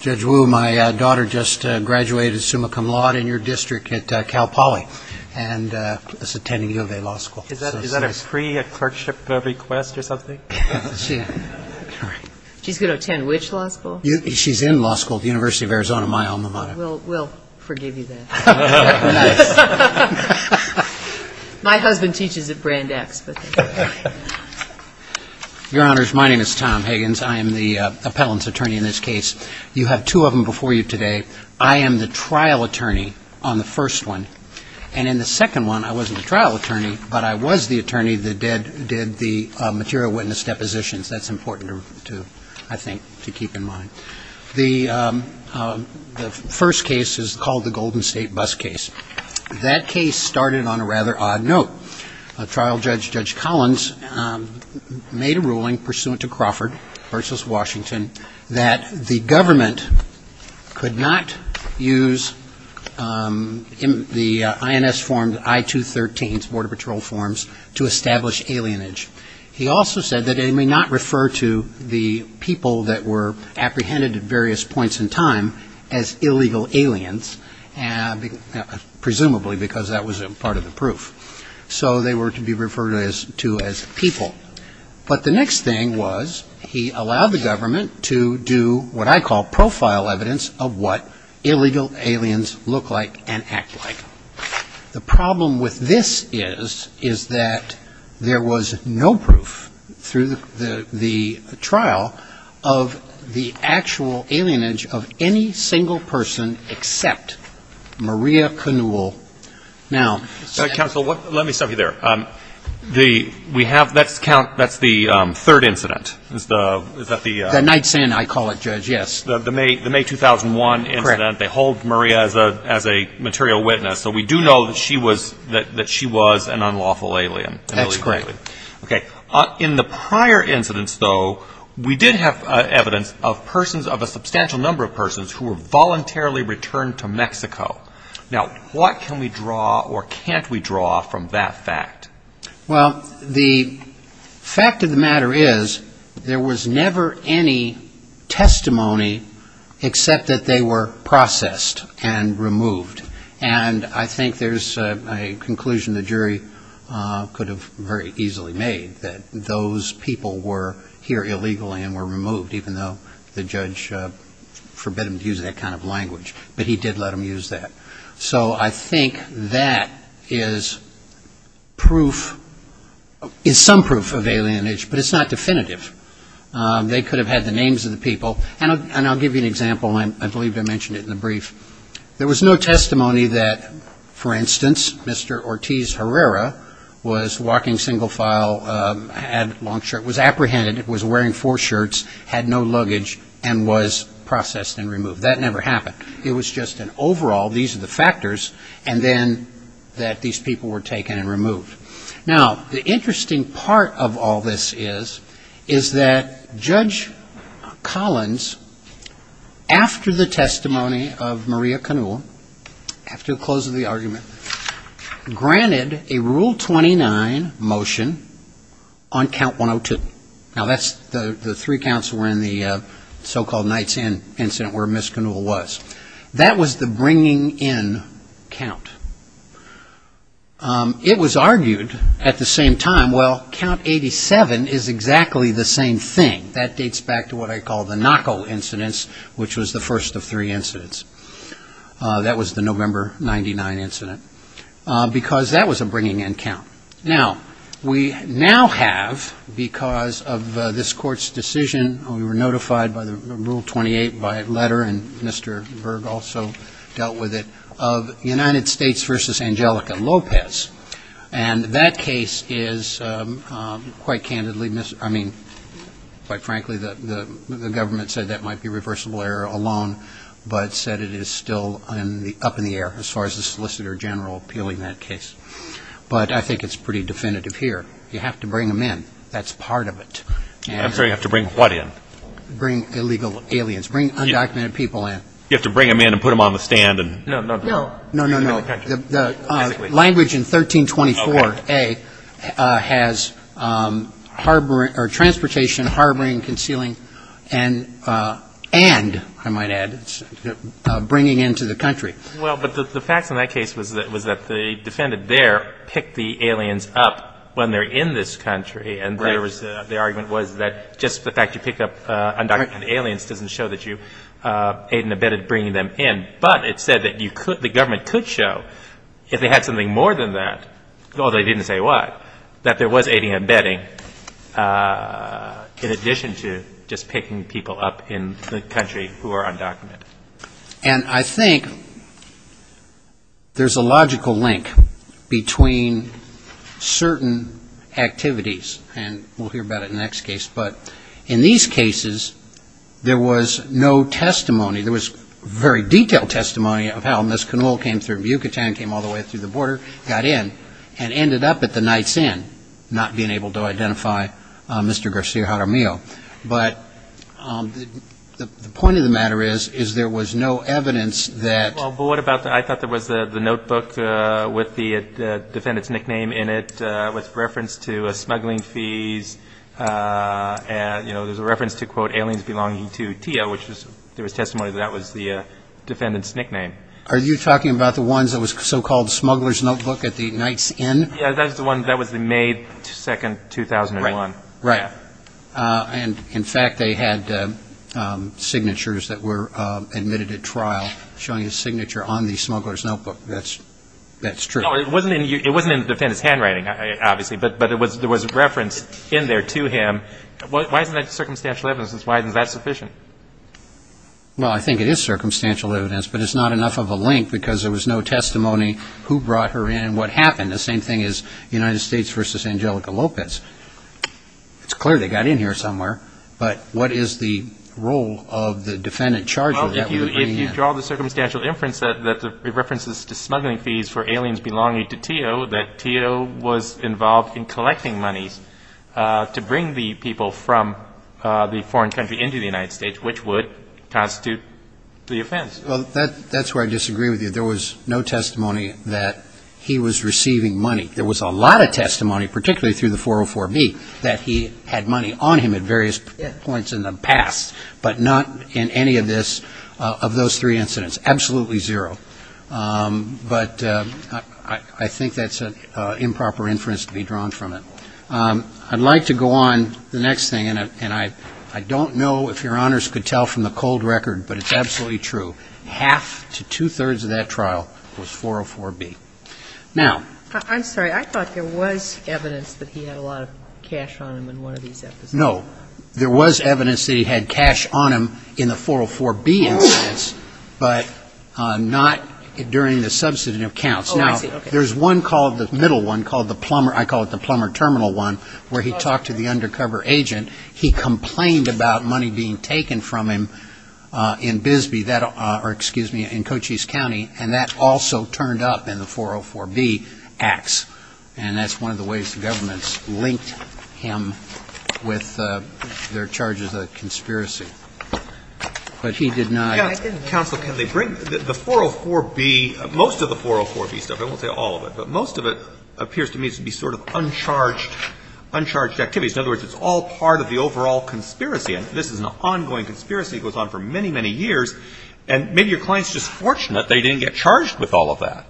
Judge Wu, my daughter just graduated summa cum laude in your district at Cal Poly and is attending U of A Law School. Is that a pre-clerkship request or something? She's going to attend which law school? She's in law school at the University of Arizona, my alma mater. We'll forgive you then. My husband teaches at Brand X. Your honors, my name is Tom Higgins. I am the appellant's attorney in this case. You have two of them before you today. I am the trial attorney on the first one. And in the second one, I wasn't a trial attorney, but I was the attorney that did the material witness depositions. That's important, I think, to keep in mind. The first case is called the Golden State Bus Case. That case started on a rather odd note. A trial judge, Judge Collins, made a ruling pursuant to Crawford v. Washington, that the government could not use the INS form, I-213, Border Patrol forms, to establish alienage. He also said that it may not refer to the people that were apprehended at various points in time as illegal aliens, presumably because that was part of the proof. So they were to be referred to as people. But the next thing was he allowed the government to do what I call profile evidence of what illegal aliens look like and act like. The problem with this is, is that there was no proof through the trial of the actual alienage of any single person except Maria Canul. Now ‑‑ Counsel, let me stop you there. We have ‑‑ that's the third incident. Is that the ‑‑ The nightstand, I call it, Judge, yes. The May 2001 incident. Correct. They hold Maria as a material witness. So we do know that she was an unlawful alien. That's correct. Okay. In the prior incidents, though, we did have evidence of persons, of a substantial number of persons who were voluntarily returned to Mexico. Now, what can we draw or can't we draw from that fact? Well, the fact of the matter is, there was never any testimony except that they were processed and removed. And I think there's a conclusion the jury could have very easily made, that those people were here illegally and were removed, even though the judge forbid them to use that kind of language. But he did let them use that. So I think that is proof, is some proof of alienage, but it's not definitive. They could have had the names of the people. And I'll give you an example, and I believe I mentioned it in the brief. There was no testimony that, for instance, Mr. Ortiz Herrera was walking single file, had a long shirt, was apprehended, was wearing four shirts, had no luggage, and was processed and removed. That never happened. It was just an overall, these are the factors, and then that these people were taken and removed. Now, the interesting part of all this is, is that Judge Collins, after the testimony of Maria Canul, after the close of the argument, granted a Rule 29 motion on Count 102. Now, the three counts were in the so-called Knight's Inn incident where Ms. Canul was. That was the bringing in count. It was argued at the same time, well, Count 87 is exactly the same thing. That dates back to what I call the Knocko incidents, which was the first of three incidents. That was the November 99 incident, because that was a bringing in count. Now, we now have, because of this Court's decision, we were notified by the Rule 28 by letter, and Mr. Berg also dealt with it, of United States v. Angelica Lopez. And that case is quite candidly, I mean, quite frankly, the government said that might be reversible error alone, but said it is still up in the air as far as the Solicitor General appealing that case. But I think it's pretty definitive here. You have to bring them in. That's part of it. And so you have to bring what in? Bring illegal aliens. Bring undocumented people in. You have to bring them in and put them on the stand and? No, no, no. No, no, no. The language in 1324a has harboring or transportation, harboring, concealing, and, and, I might add, bringing into the country. Well, but the facts in that case was that, was that the defendant there picked the aliens up when they're in this country. Right. And there was, the argument was that just the fact you pick up undocumented aliens doesn't show that you aid and abetted bringing them in. But it said that you could, the government could show, if they had something more than that, although they didn't say what, that there was aiding and abetting in addition to just picking people up in the country who are undocumented. And I think there's a logical link between certain activities, and we'll hear about it in the next case, but in these cases, there was no testimony. There was very detailed testimony of how Ms. Canole came through Yucatan, came all the way through the border, got in, and ended up at the Knight's Inn, not being able to identify Mr. Garcia Jaramillo. But the point of the matter is, is there was no evidence that. Well, but what about the, I thought there was the notebook with the defendant's nickname in it with reference to smuggling fees, and, you know, there's a reference to, quote, aliens belonging to Tia, which was, there was testimony that that was the defendant's nickname. Are you talking about the ones that was so-called smuggler's notebook at the Knight's Inn? Yeah, that was the one, that was the May 2, 2001. Right. And, in fact, they had signatures that were admitted at trial showing a signature on the smuggler's notebook. That's true. No, it wasn't in the defendant's handwriting, obviously, but there was a reference in there to him. Why isn't that circumstantial evidence? Why isn't that sufficient? Well, I think it is circumstantial evidence, but it's not enough of a link because there was no testimony who brought her in and what happened, the same thing as United States v. Angelica Lopez. It's clear they got in here somewhere, but what is the role of the defendant charger? Well, if you draw the circumstantial inference that it references to smuggling fees for aliens belonging to Tia, that Tia was involved in collecting monies to bring the people from the foreign country into the United States, which would constitute the offense. Well, that's where I disagree with you. There was no testimony that he was receiving money. There was a lot of testimony, particularly through the 404B, that he had money on him at various points in the past, but not in any of those three incidents. Absolutely zero. But I think that's an improper inference to be drawn from it. I'd like to go on the next thing, and I don't know if Your Honors could tell from the cold record, but it's absolutely true. Half to two-thirds of that trial was 404B. Now. I'm sorry. I thought there was evidence that he had a lot of cash on him in one of these episodes. No. There was evidence that he had cash on him in the 404B incidents, but not during the substantive counts. Oh, I see. Okay. Now, there's one called, the middle one, called the plumber, I call it the plumber terminal one, where he talked to the undercover agent. He complained about money being taken from him in Bisbee, or excuse me, in Cochise County, and that also turned up in the 404B acts. And that's one of the ways the government's linked him with their charges of conspiracy. But he did not. Counsel, can they bring the 404B, most of the 404B stuff, I won't say all of it, but most of it appears to me to be sort of uncharged activities. In other words, it's all part of the overall conspiracy. And this is an ongoing conspiracy. It goes on for many, many years. And maybe your client's just fortunate they didn't get charged with all of that.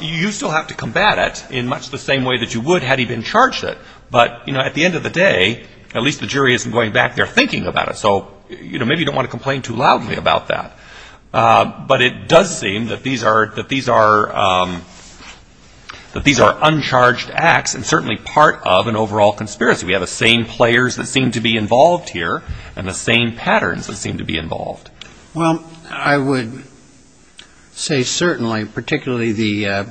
You still have to combat it in much the same way that you would had he been charged it. But, you know, at the end of the day, at least the jury isn't going back there thinking about it. So, you know, maybe you don't want to complain too loudly about that. But it does seem that these are uncharged acts and certainly part of an overall conspiracy. We have the same players that seem to be involved here and the same patterns that seem to be involved. Well, I would say certainly, particularly the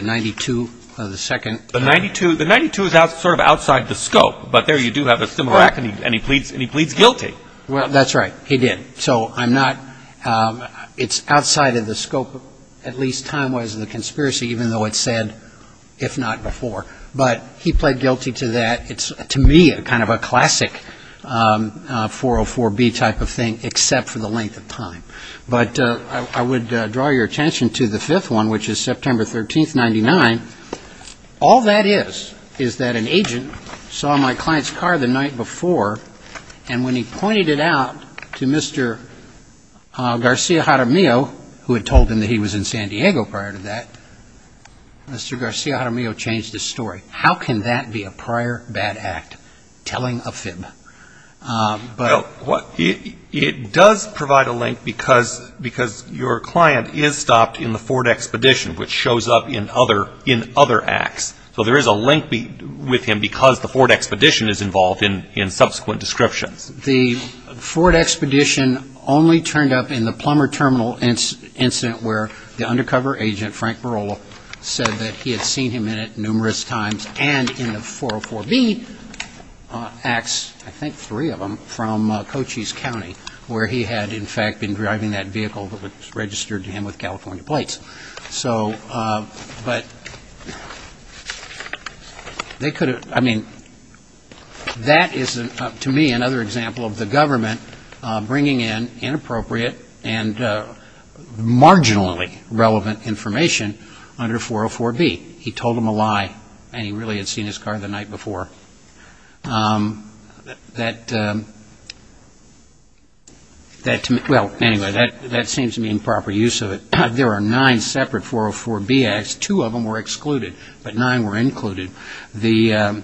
92 of the second. The 92, the 92 is sort of outside the scope. But there you do have a similar act and he pleads guilty. Well, that's right. He did. So I'm not, it's outside of the scope at least time-wise of the conspiracy, even though it's said if not before. But he pled guilty to that. It's to me kind of a classic 404B type of thing, except for the length of time. But I would draw your attention to the fifth one, which is September 13th, 99. All that is, is that an agent saw my client's car the night before. And when he pointed it out to Mr. Garcia Jaramillo, who had told him that he was in San Diego prior to that, Mr. Garcia Jaramillo changed his story. How can that be a prior bad act, telling a fib? It does provide a link because your client is stopped in the Ford Expedition, which shows up in other acts. So there is a link with him because the Ford Expedition is involved in subsequent descriptions. The Ford Expedition only turned up in the Plummer Terminal incident where the undercover agent, Frank Barola, said that he had seen him in it numerous times and in the 404B acts, I think three of them, from Cochise County, where he had, in fact, been driving that vehicle that was registered to him with California plates. So, but they could have, I mean, that is, to me, another example of the government bringing in inappropriate and marginally relevant information under 404B. He told him a lie and he really had seen his car the night before. That, well, anyway, that seems to be improper use of it. There are nine separate 404B acts. Two of them were excluded, but nine were included. The,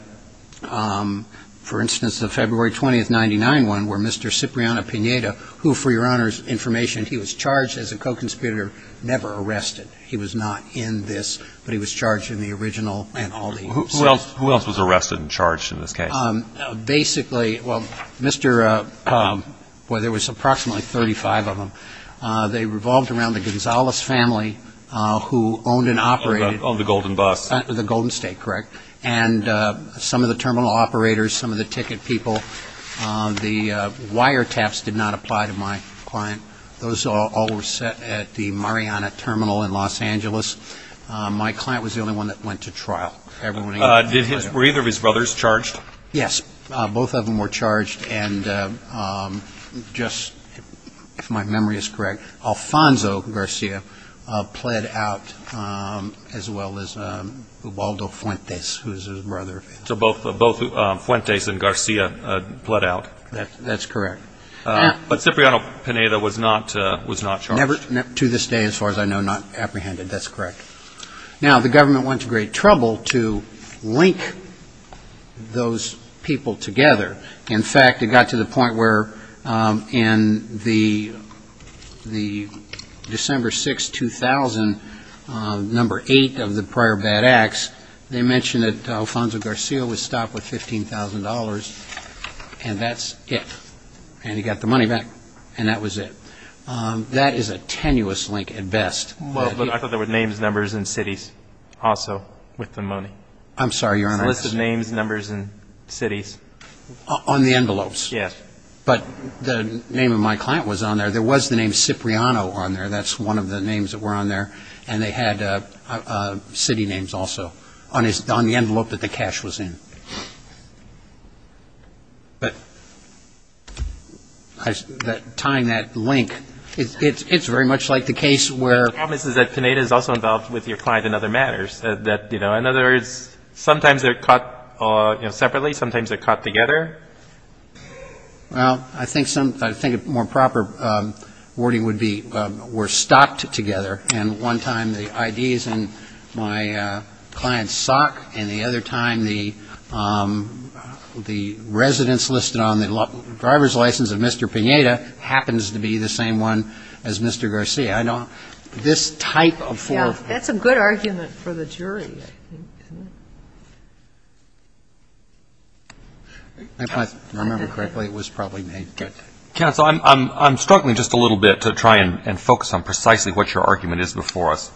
for instance, the February 20th, 1999 one where Mr. Cipriano-Pineda, who, for your Honor's information, he was charged as a co-conspirator, never arrested. He was not in this, but he was charged in the original and all the. Who else was arrested and charged in this case? Basically, well, Mr. Well, there was approximately 35 of them. They revolved around the Gonzalez family who owned and operated. Owned the Golden Bus. The Golden State, correct. And some of the terminal operators, some of the ticket people. The wiretaps did not apply to my client. Those all were set at the Mariana Terminal in Los Angeles. My client was the only one that went to trial. Were either of his brothers charged? Yes. Both of them were charged and just, if my memory is correct, Alfonso Garcia pled out as well as Ubaldo Fuentes, who is his brother. So both Fuentes and Garcia pled out? That's correct. But Cipriano-Pineda was not charged? To this day, as far as I know, not apprehended. That's correct. Now, the government went to great trouble to link those people together. In fact, it got to the point where in the December 6, 2000, number eight of the prior bad acts, they mentioned that Alfonso Garcia was stopped with $15,000, and that's it. And he got the money back, and that was it. That is a tenuous link at best. I thought there were names, numbers, and cities also with the money. I'm sorry. There's a list of names, numbers, and cities. On the envelopes? Yes. But the name of my client was on there. There was the name Cipriano on there. That's one of the names that were on there. And they had city names also on the envelope that the cash was in. But tying that link, it's very much like the case where ---- The problem is that Pineda is also involved with your client in other matters. In other words, sometimes they're caught separately, sometimes they're caught together. Well, I think a more proper wording would be we're stopped together. And one time the ID is in my client's sock, and the other time the residence listed on the driver's license of Mr. Pineda happens to be the same one as Mr. Garcia. I know this type of form ---- Yeah. That's a good argument for the jury, I think, isn't it? If I remember correctly, it was probably made good. Counsel, I'm struggling just a little bit to try and focus on precisely what your argument is before us.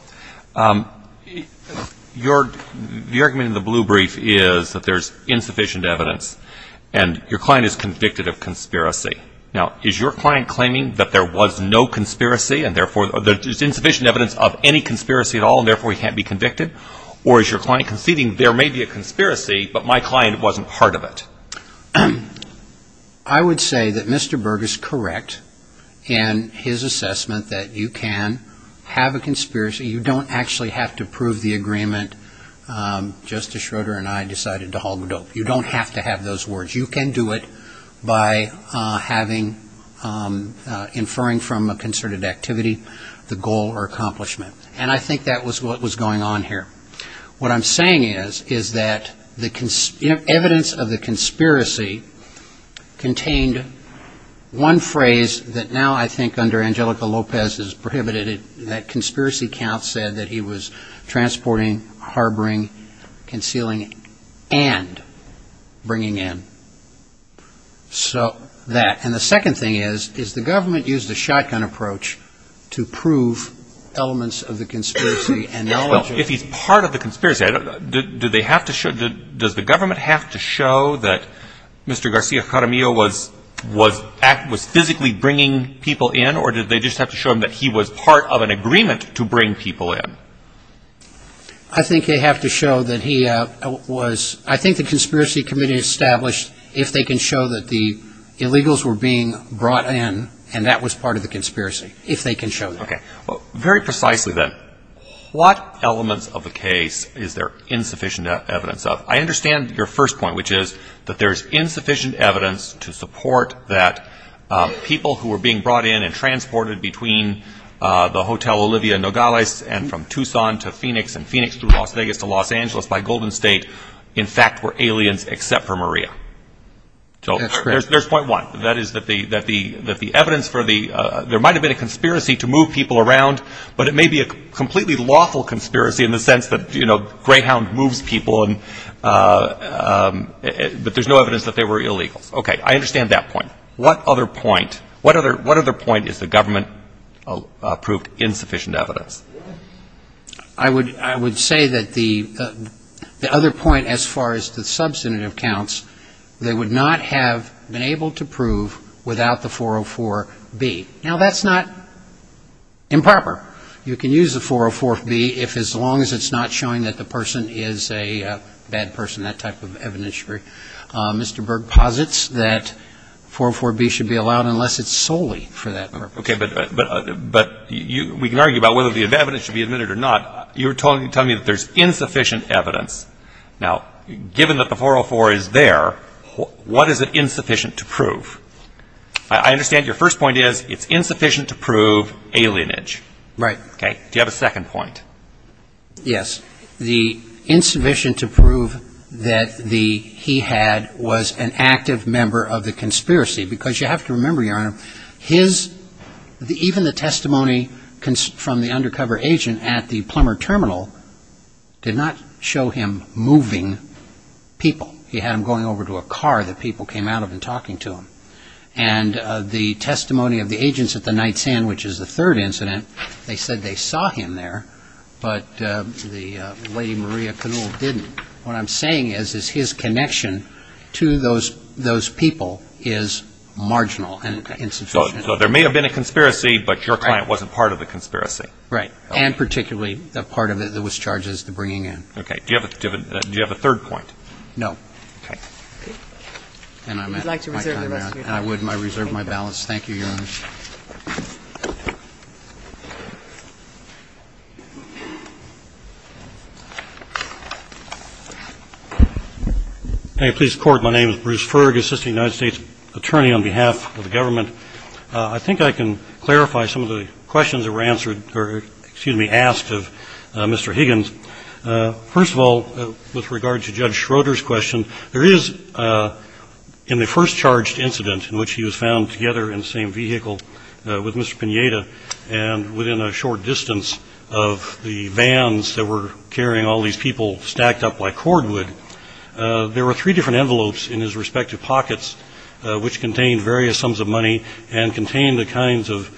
Your argument in the blue brief is that there's insufficient evidence, and your client is convicted of conspiracy. Now, is your client claiming that there was no conspiracy and, therefore, there's insufficient evidence of any conspiracy at all and, therefore, he can't be convicted? Or is your client conceding there may be a conspiracy, but my client wasn't part of it? I would say that Mr. Berg is correct in his assessment that you can have a conspiracy. You don't actually have to prove the agreement. Justice Schroeder and I decided to hog the dope. You don't have to have those words. You can do it by inferring from a concerted activity the goal or accomplishment. And I think that was what was going on here. What I'm saying is, is that the evidence of the conspiracy contained one phrase that now, I think, under Angelica Lopez is prohibited. That conspiracy count said that he was transporting, harboring, concealing, and bringing in. So that. And the second thing is, is the government used a shotgun approach to prove elements of the conspiracy. Well, if he's part of the conspiracy, do they have to show, does the government have to show that Mr. Garcia-Caramillo was physically bringing people in, or did they just have to show him that he was part of an agreement to bring people in? I think they have to show that he was. I think the Conspiracy Committee established if they can show that the illegals were being brought in and that was part of the conspiracy, if they can show that. Okay. Very precisely then, what elements of the case is there insufficient evidence of? I understand your first point, which is that there's insufficient evidence to support that people who were being brought in and transported between the Hotel Olivia Nogales and from Tucson to Phoenix and Phoenix to Las Vegas to Los Angeles by Golden State in fact were aliens except for Maria. So there's point one. That is that the evidence for the, there might have been a conspiracy to move people around, but it may be a completely lawful conspiracy in the sense that, you know, Greyhound moves people but there's no evidence that they were illegals. Okay. I understand that point. What other point, what other point is the government proved insufficient evidence? I would say that the other point as far as the substantive counts, they would not have been able to prove without the 404B. Now, that's not improper. You can use the 404B if as long as it's not showing that the person is a bad person, that type of evidence. Mr. Berg posits that 404B should be allowed unless it's solely for that purpose. Okay. But we can argue about whether the evidence should be admitted or not. You're telling me that there's insufficient evidence. Now, given that the 404 is there, what is it insufficient to prove? I understand your first point is it's insufficient to prove alienage. Right. Okay. Do you have a second point? Yes. The insufficient to prove that the, he had was an active member of the conspiracy, because you have to remember, Your Honor, his, even the testimony from the undercover agent at the Plummer Terminal did not show him moving people. He had him going over to a car that people came out of and talking to him. And the testimony of the agents at the Night Sand, which is the third incident, they said they saw him there, but the Lady Maria Canul didn't. What I'm saying is his connection to those people is marginal and insufficient. Okay. So there may have been a conspiracy, but your client wasn't part of the conspiracy. Right. And particularly the part of it that was charged as the bringing in. Okay. Do you have a third point? Okay. And I'm at my time now. Would you like to reserve the rest of your time? I would, and I reserve my balance. Thank you, Your Honor. May it please the Court. My name is Bruce Ferg, Assistant United States Attorney on behalf of the government. I think I can clarify some of the questions that were answered or, excuse me, asked of Mr. Higgins. First of all, with regard to Judge Schroeder's question, there is in the first charged incident in which he was found together in the same vehicle with Mr. Pineda, and within a short distance of the vans that were carrying all these people stacked up like cordwood, there were three different envelopes in his respective pockets which contained various sums of money and contained the kinds of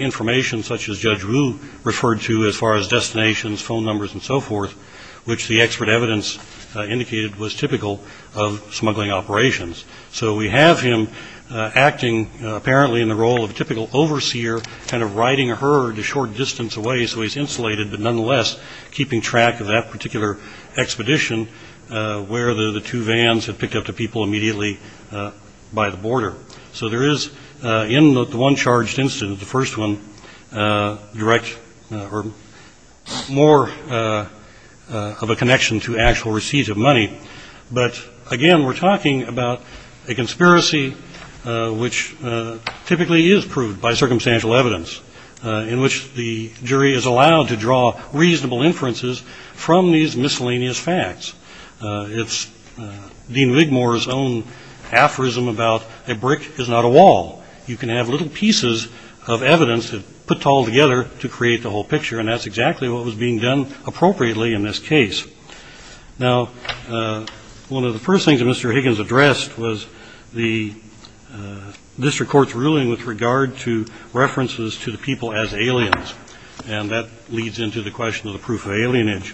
information such as Judge Wu referred to as far as destinations, phone numbers, and so forth, which the expert evidence indicated was typical of smuggling operations. So we have him acting apparently in the role of a typical overseer, kind of riding a herd a short distance away so he's insulated, but nonetheless keeping track of that particular expedition where the two vans had picked up the people immediately by the border. So there is in the one charged incident, the first one, direct or more of a connection to actual receipts of money. But, again, we're talking about a conspiracy which typically is proved by circumstantial evidence in which the jury is allowed to draw reasonable inferences from these miscellaneous facts. It's Dean Wigmore's own aphorism about a brick is not a wall. You can have little pieces of evidence put all together to create the whole picture, and that's exactly what was being done appropriately in this case. Now, one of the first things that Mr. Higgins addressed was the district court's ruling with regard to references to the people as aliens, and that leads into the question of the proof of alienage.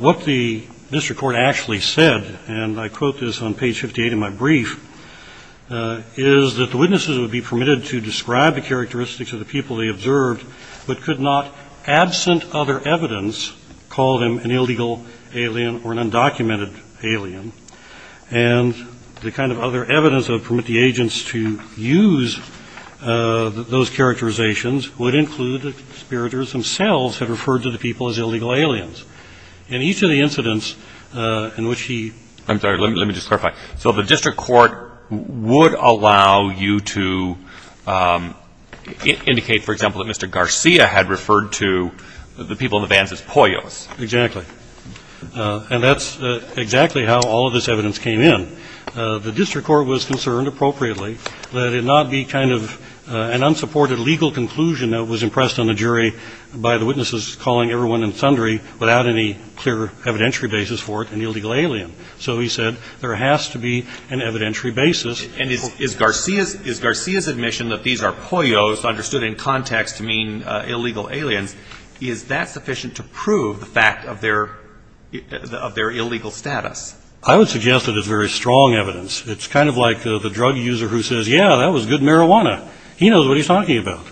What the district court actually said, and I quote this on page 58 of my brief, is that the witnesses would be permitted to describe the characteristics of the people they observed but could not, absent other evidence, call them an illegal alien or an undocumented alien. And the kind of other evidence that would permit the agents to use those characterizations would include the conspirators themselves had referred to the people as illegal aliens. In each of the incidents in which he ---- I'm sorry, let me just clarify. So the district court would allow you to indicate, for example, that Mr. Garcia had referred to the people in the vans as poyos. Exactly. And that's exactly how all of this evidence came in. The district court was concerned appropriately that it not be kind of an unsupported legal conclusion that was impressed on the jury by the witnesses calling everyone and sundry without any clear evidentiary basis for it an illegal alien. So he said there has to be an evidentiary basis. And is Garcia's admission that these are poyos understood in context to mean illegal aliens, is that sufficient to prove the fact of their illegal status? I would suggest that it's very strong evidence. It's kind of like the drug user who says, yeah, that was good marijuana. He knows what he's talking about.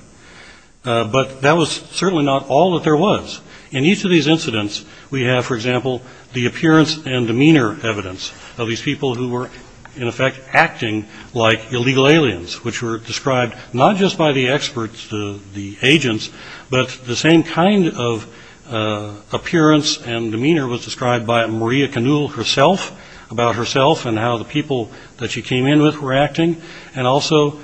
But that was certainly not all that there was. In each of these incidents, we have, for example, the appearance and demeanor evidence of these people who were, in effect, acting like illegal aliens, which were described not just by the experts, the agents, but the same kind of appearance and demeanor was described by Maria Canule herself, about herself and how the people that she came in with were acting. And also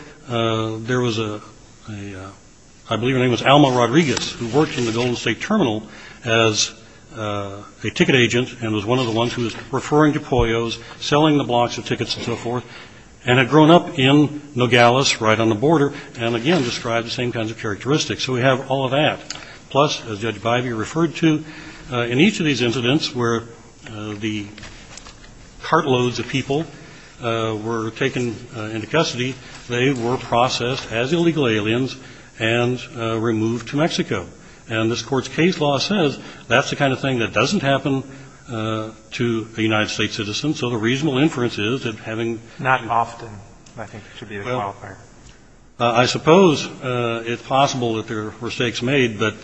there was a – I believe her name was Alma Rodriguez, who worked in the Golden State Terminal as a ticket agent and was one of the ones who was referring to poyos, selling the blocks of tickets and so forth, and had grown up in Nogales right on the border and, again, described the same kinds of characteristics. So we have all of that. Plus, as Judge Bivey referred to, in each of these incidents where the cartloads of people were taken into custody, they were processed as illegal aliens and removed to Mexico. And this Court's case law says that's the kind of thing that doesn't happen to a United States citizen. So the reasonable inference is that having to do with – Not often, I think, should be the qualifier. I suppose it's possible that there were mistakes made, but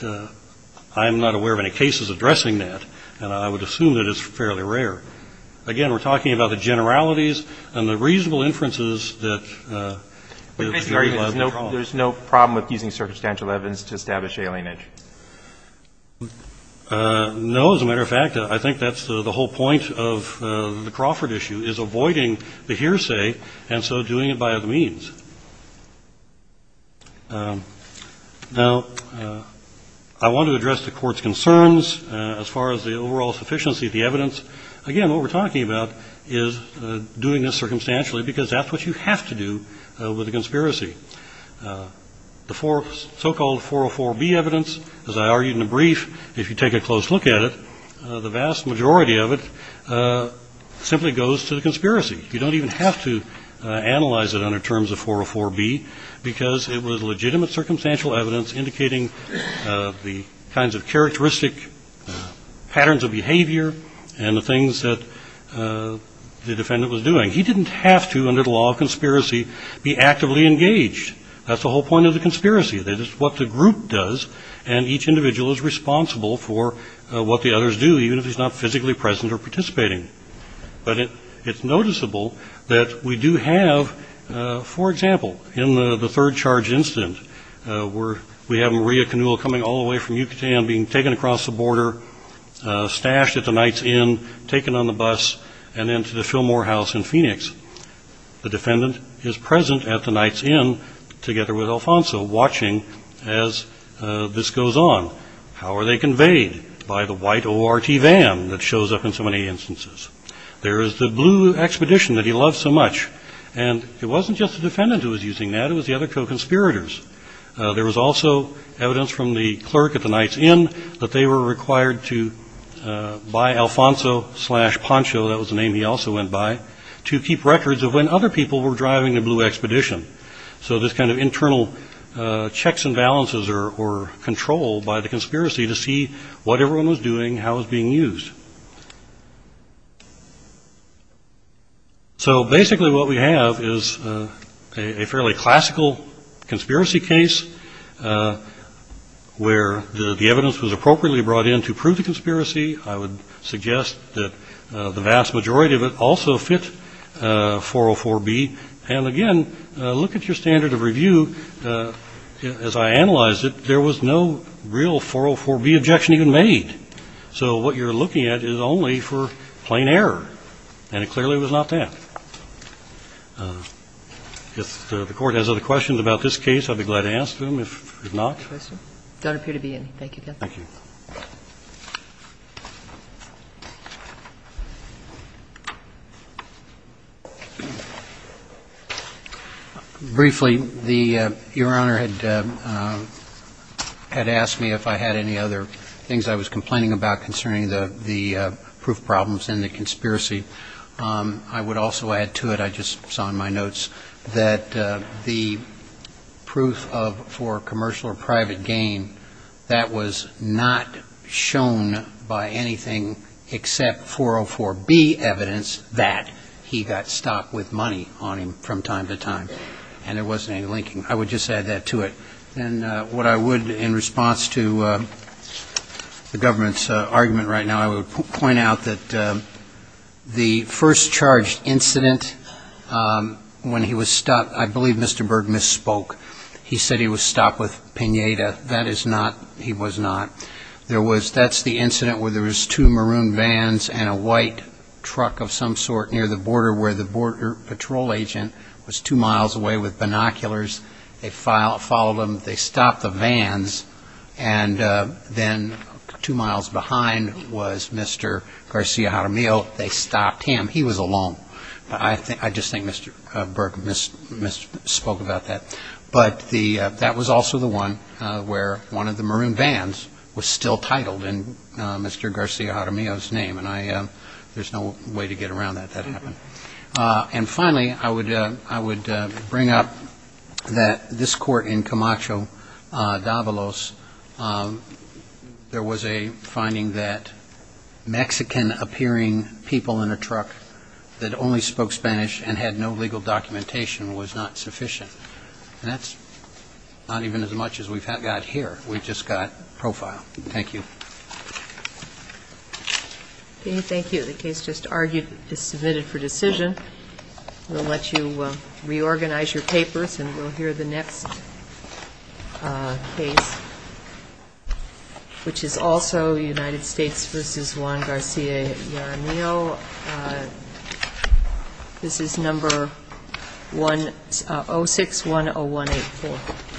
I'm not aware of any cases addressing that, and I would assume that it's fairly rare. Again, we're talking about the generalities and the reasonable inferences that – There's no problem with using circumstantial evidence to establish alienage? No. As a matter of fact, I think that's the whole point of the Crawford issue, is avoiding the hearsay and so doing it by other means. Now, I want to address the Court's concerns as far as the overall sufficiency of the evidence. Again, what we're talking about is doing this circumstantially, because that's what you have to do with a conspiracy. The so-called 404B evidence, as I argued in the brief, if you take a close look at it, the vast majority of it simply goes to the conspiracy. You don't even have to analyze it under terms of 404B, because it was legitimate circumstantial evidence indicating the kinds of characteristic patterns of behavior and the things that the defendant was doing. He didn't have to, under the law of conspiracy, be actively engaged. That's the whole point of the conspiracy. That is what the group does, and each individual is responsible for what the others do, even if he's not physically present or participating. But it's noticeable that we do have, for example, in the third charge incident, where we have Maria Canula coming all the way from Yucatan, being taken across the border, stashed at the Knight's Inn, taken on the bus, and then to the Fillmore House in Phoenix. The defendant is present at the Knight's Inn together with Alfonso, watching as this goes on. How are they conveyed? By the white ORT van that shows up in so many instances. There is the blue expedition that he loves so much. And it wasn't just the defendant who was using that, it was the other co-conspirators. There was also evidence from the clerk at the Knight's Inn that they were required to buy Alfonso slash Poncho, that was the name he also went by, to keep records of when other people were driving the blue expedition. So this kind of internal checks and balances or control by the conspiracy to see what everyone was doing, how it was being used. So basically what we have is a fairly classical conspiracy case, where the evidence was appropriately brought in to prove the conspiracy. I would suggest that the vast majority of it also fit 404B. And again, look at your standard of review. As I analyzed it, there was no real 404B objection even made. So what you're looking at is only for plain error. And it clearly was not that. If the Court has other questions about this case, I'd be glad to ask them. If not. Thank you. Thank you. Don't appear to be any. Thank you. Thank you. Briefly, the Your Honor had asked me if I had any other things I was complaining about concerning the proof problems and the conspiracy. I would also add to it, I just saw in my notes, that the proof for commercial or private gain, that was not shown by anything except 404B evidence that he got stocked with money on him from time to time. And there wasn't any linking. I would just add that to it. And what I would, in response to the government's argument right now, I would point out that the first charged incident when he was stopped, I believe Mr. Berg misspoke. He said he was stocked with pinata. That is not. He was not. That's the incident where there was two maroon vans and a white truck of some sort near the border where the border patrol agent was two miles away with binoculars. They followed him. They stopped the vans. And then two miles behind was Mr. Garcia-Jaramillo. They stopped him. He was alone. But I just think Mr. Berg misspoke about that. But that was also the one where one of the maroon vans was still titled in Mr. Garcia-Jaramillo's name. And there's no way to get around that. That happened. And finally, I would bring up that this court in Camacho Davalos, there was a finding that Mexican-appearing people in a truck that only spoke Spanish and had no legal documentation was not sufficient. And that's not even as much as we've got here. We've just got profile. Thank you. Okay, thank you. The case just argued is submitted for decision. We'll let you reorganize your papers and we'll hear the next case, which is also United States v. Juan Garcia-Jaramillo. This is number 0610184.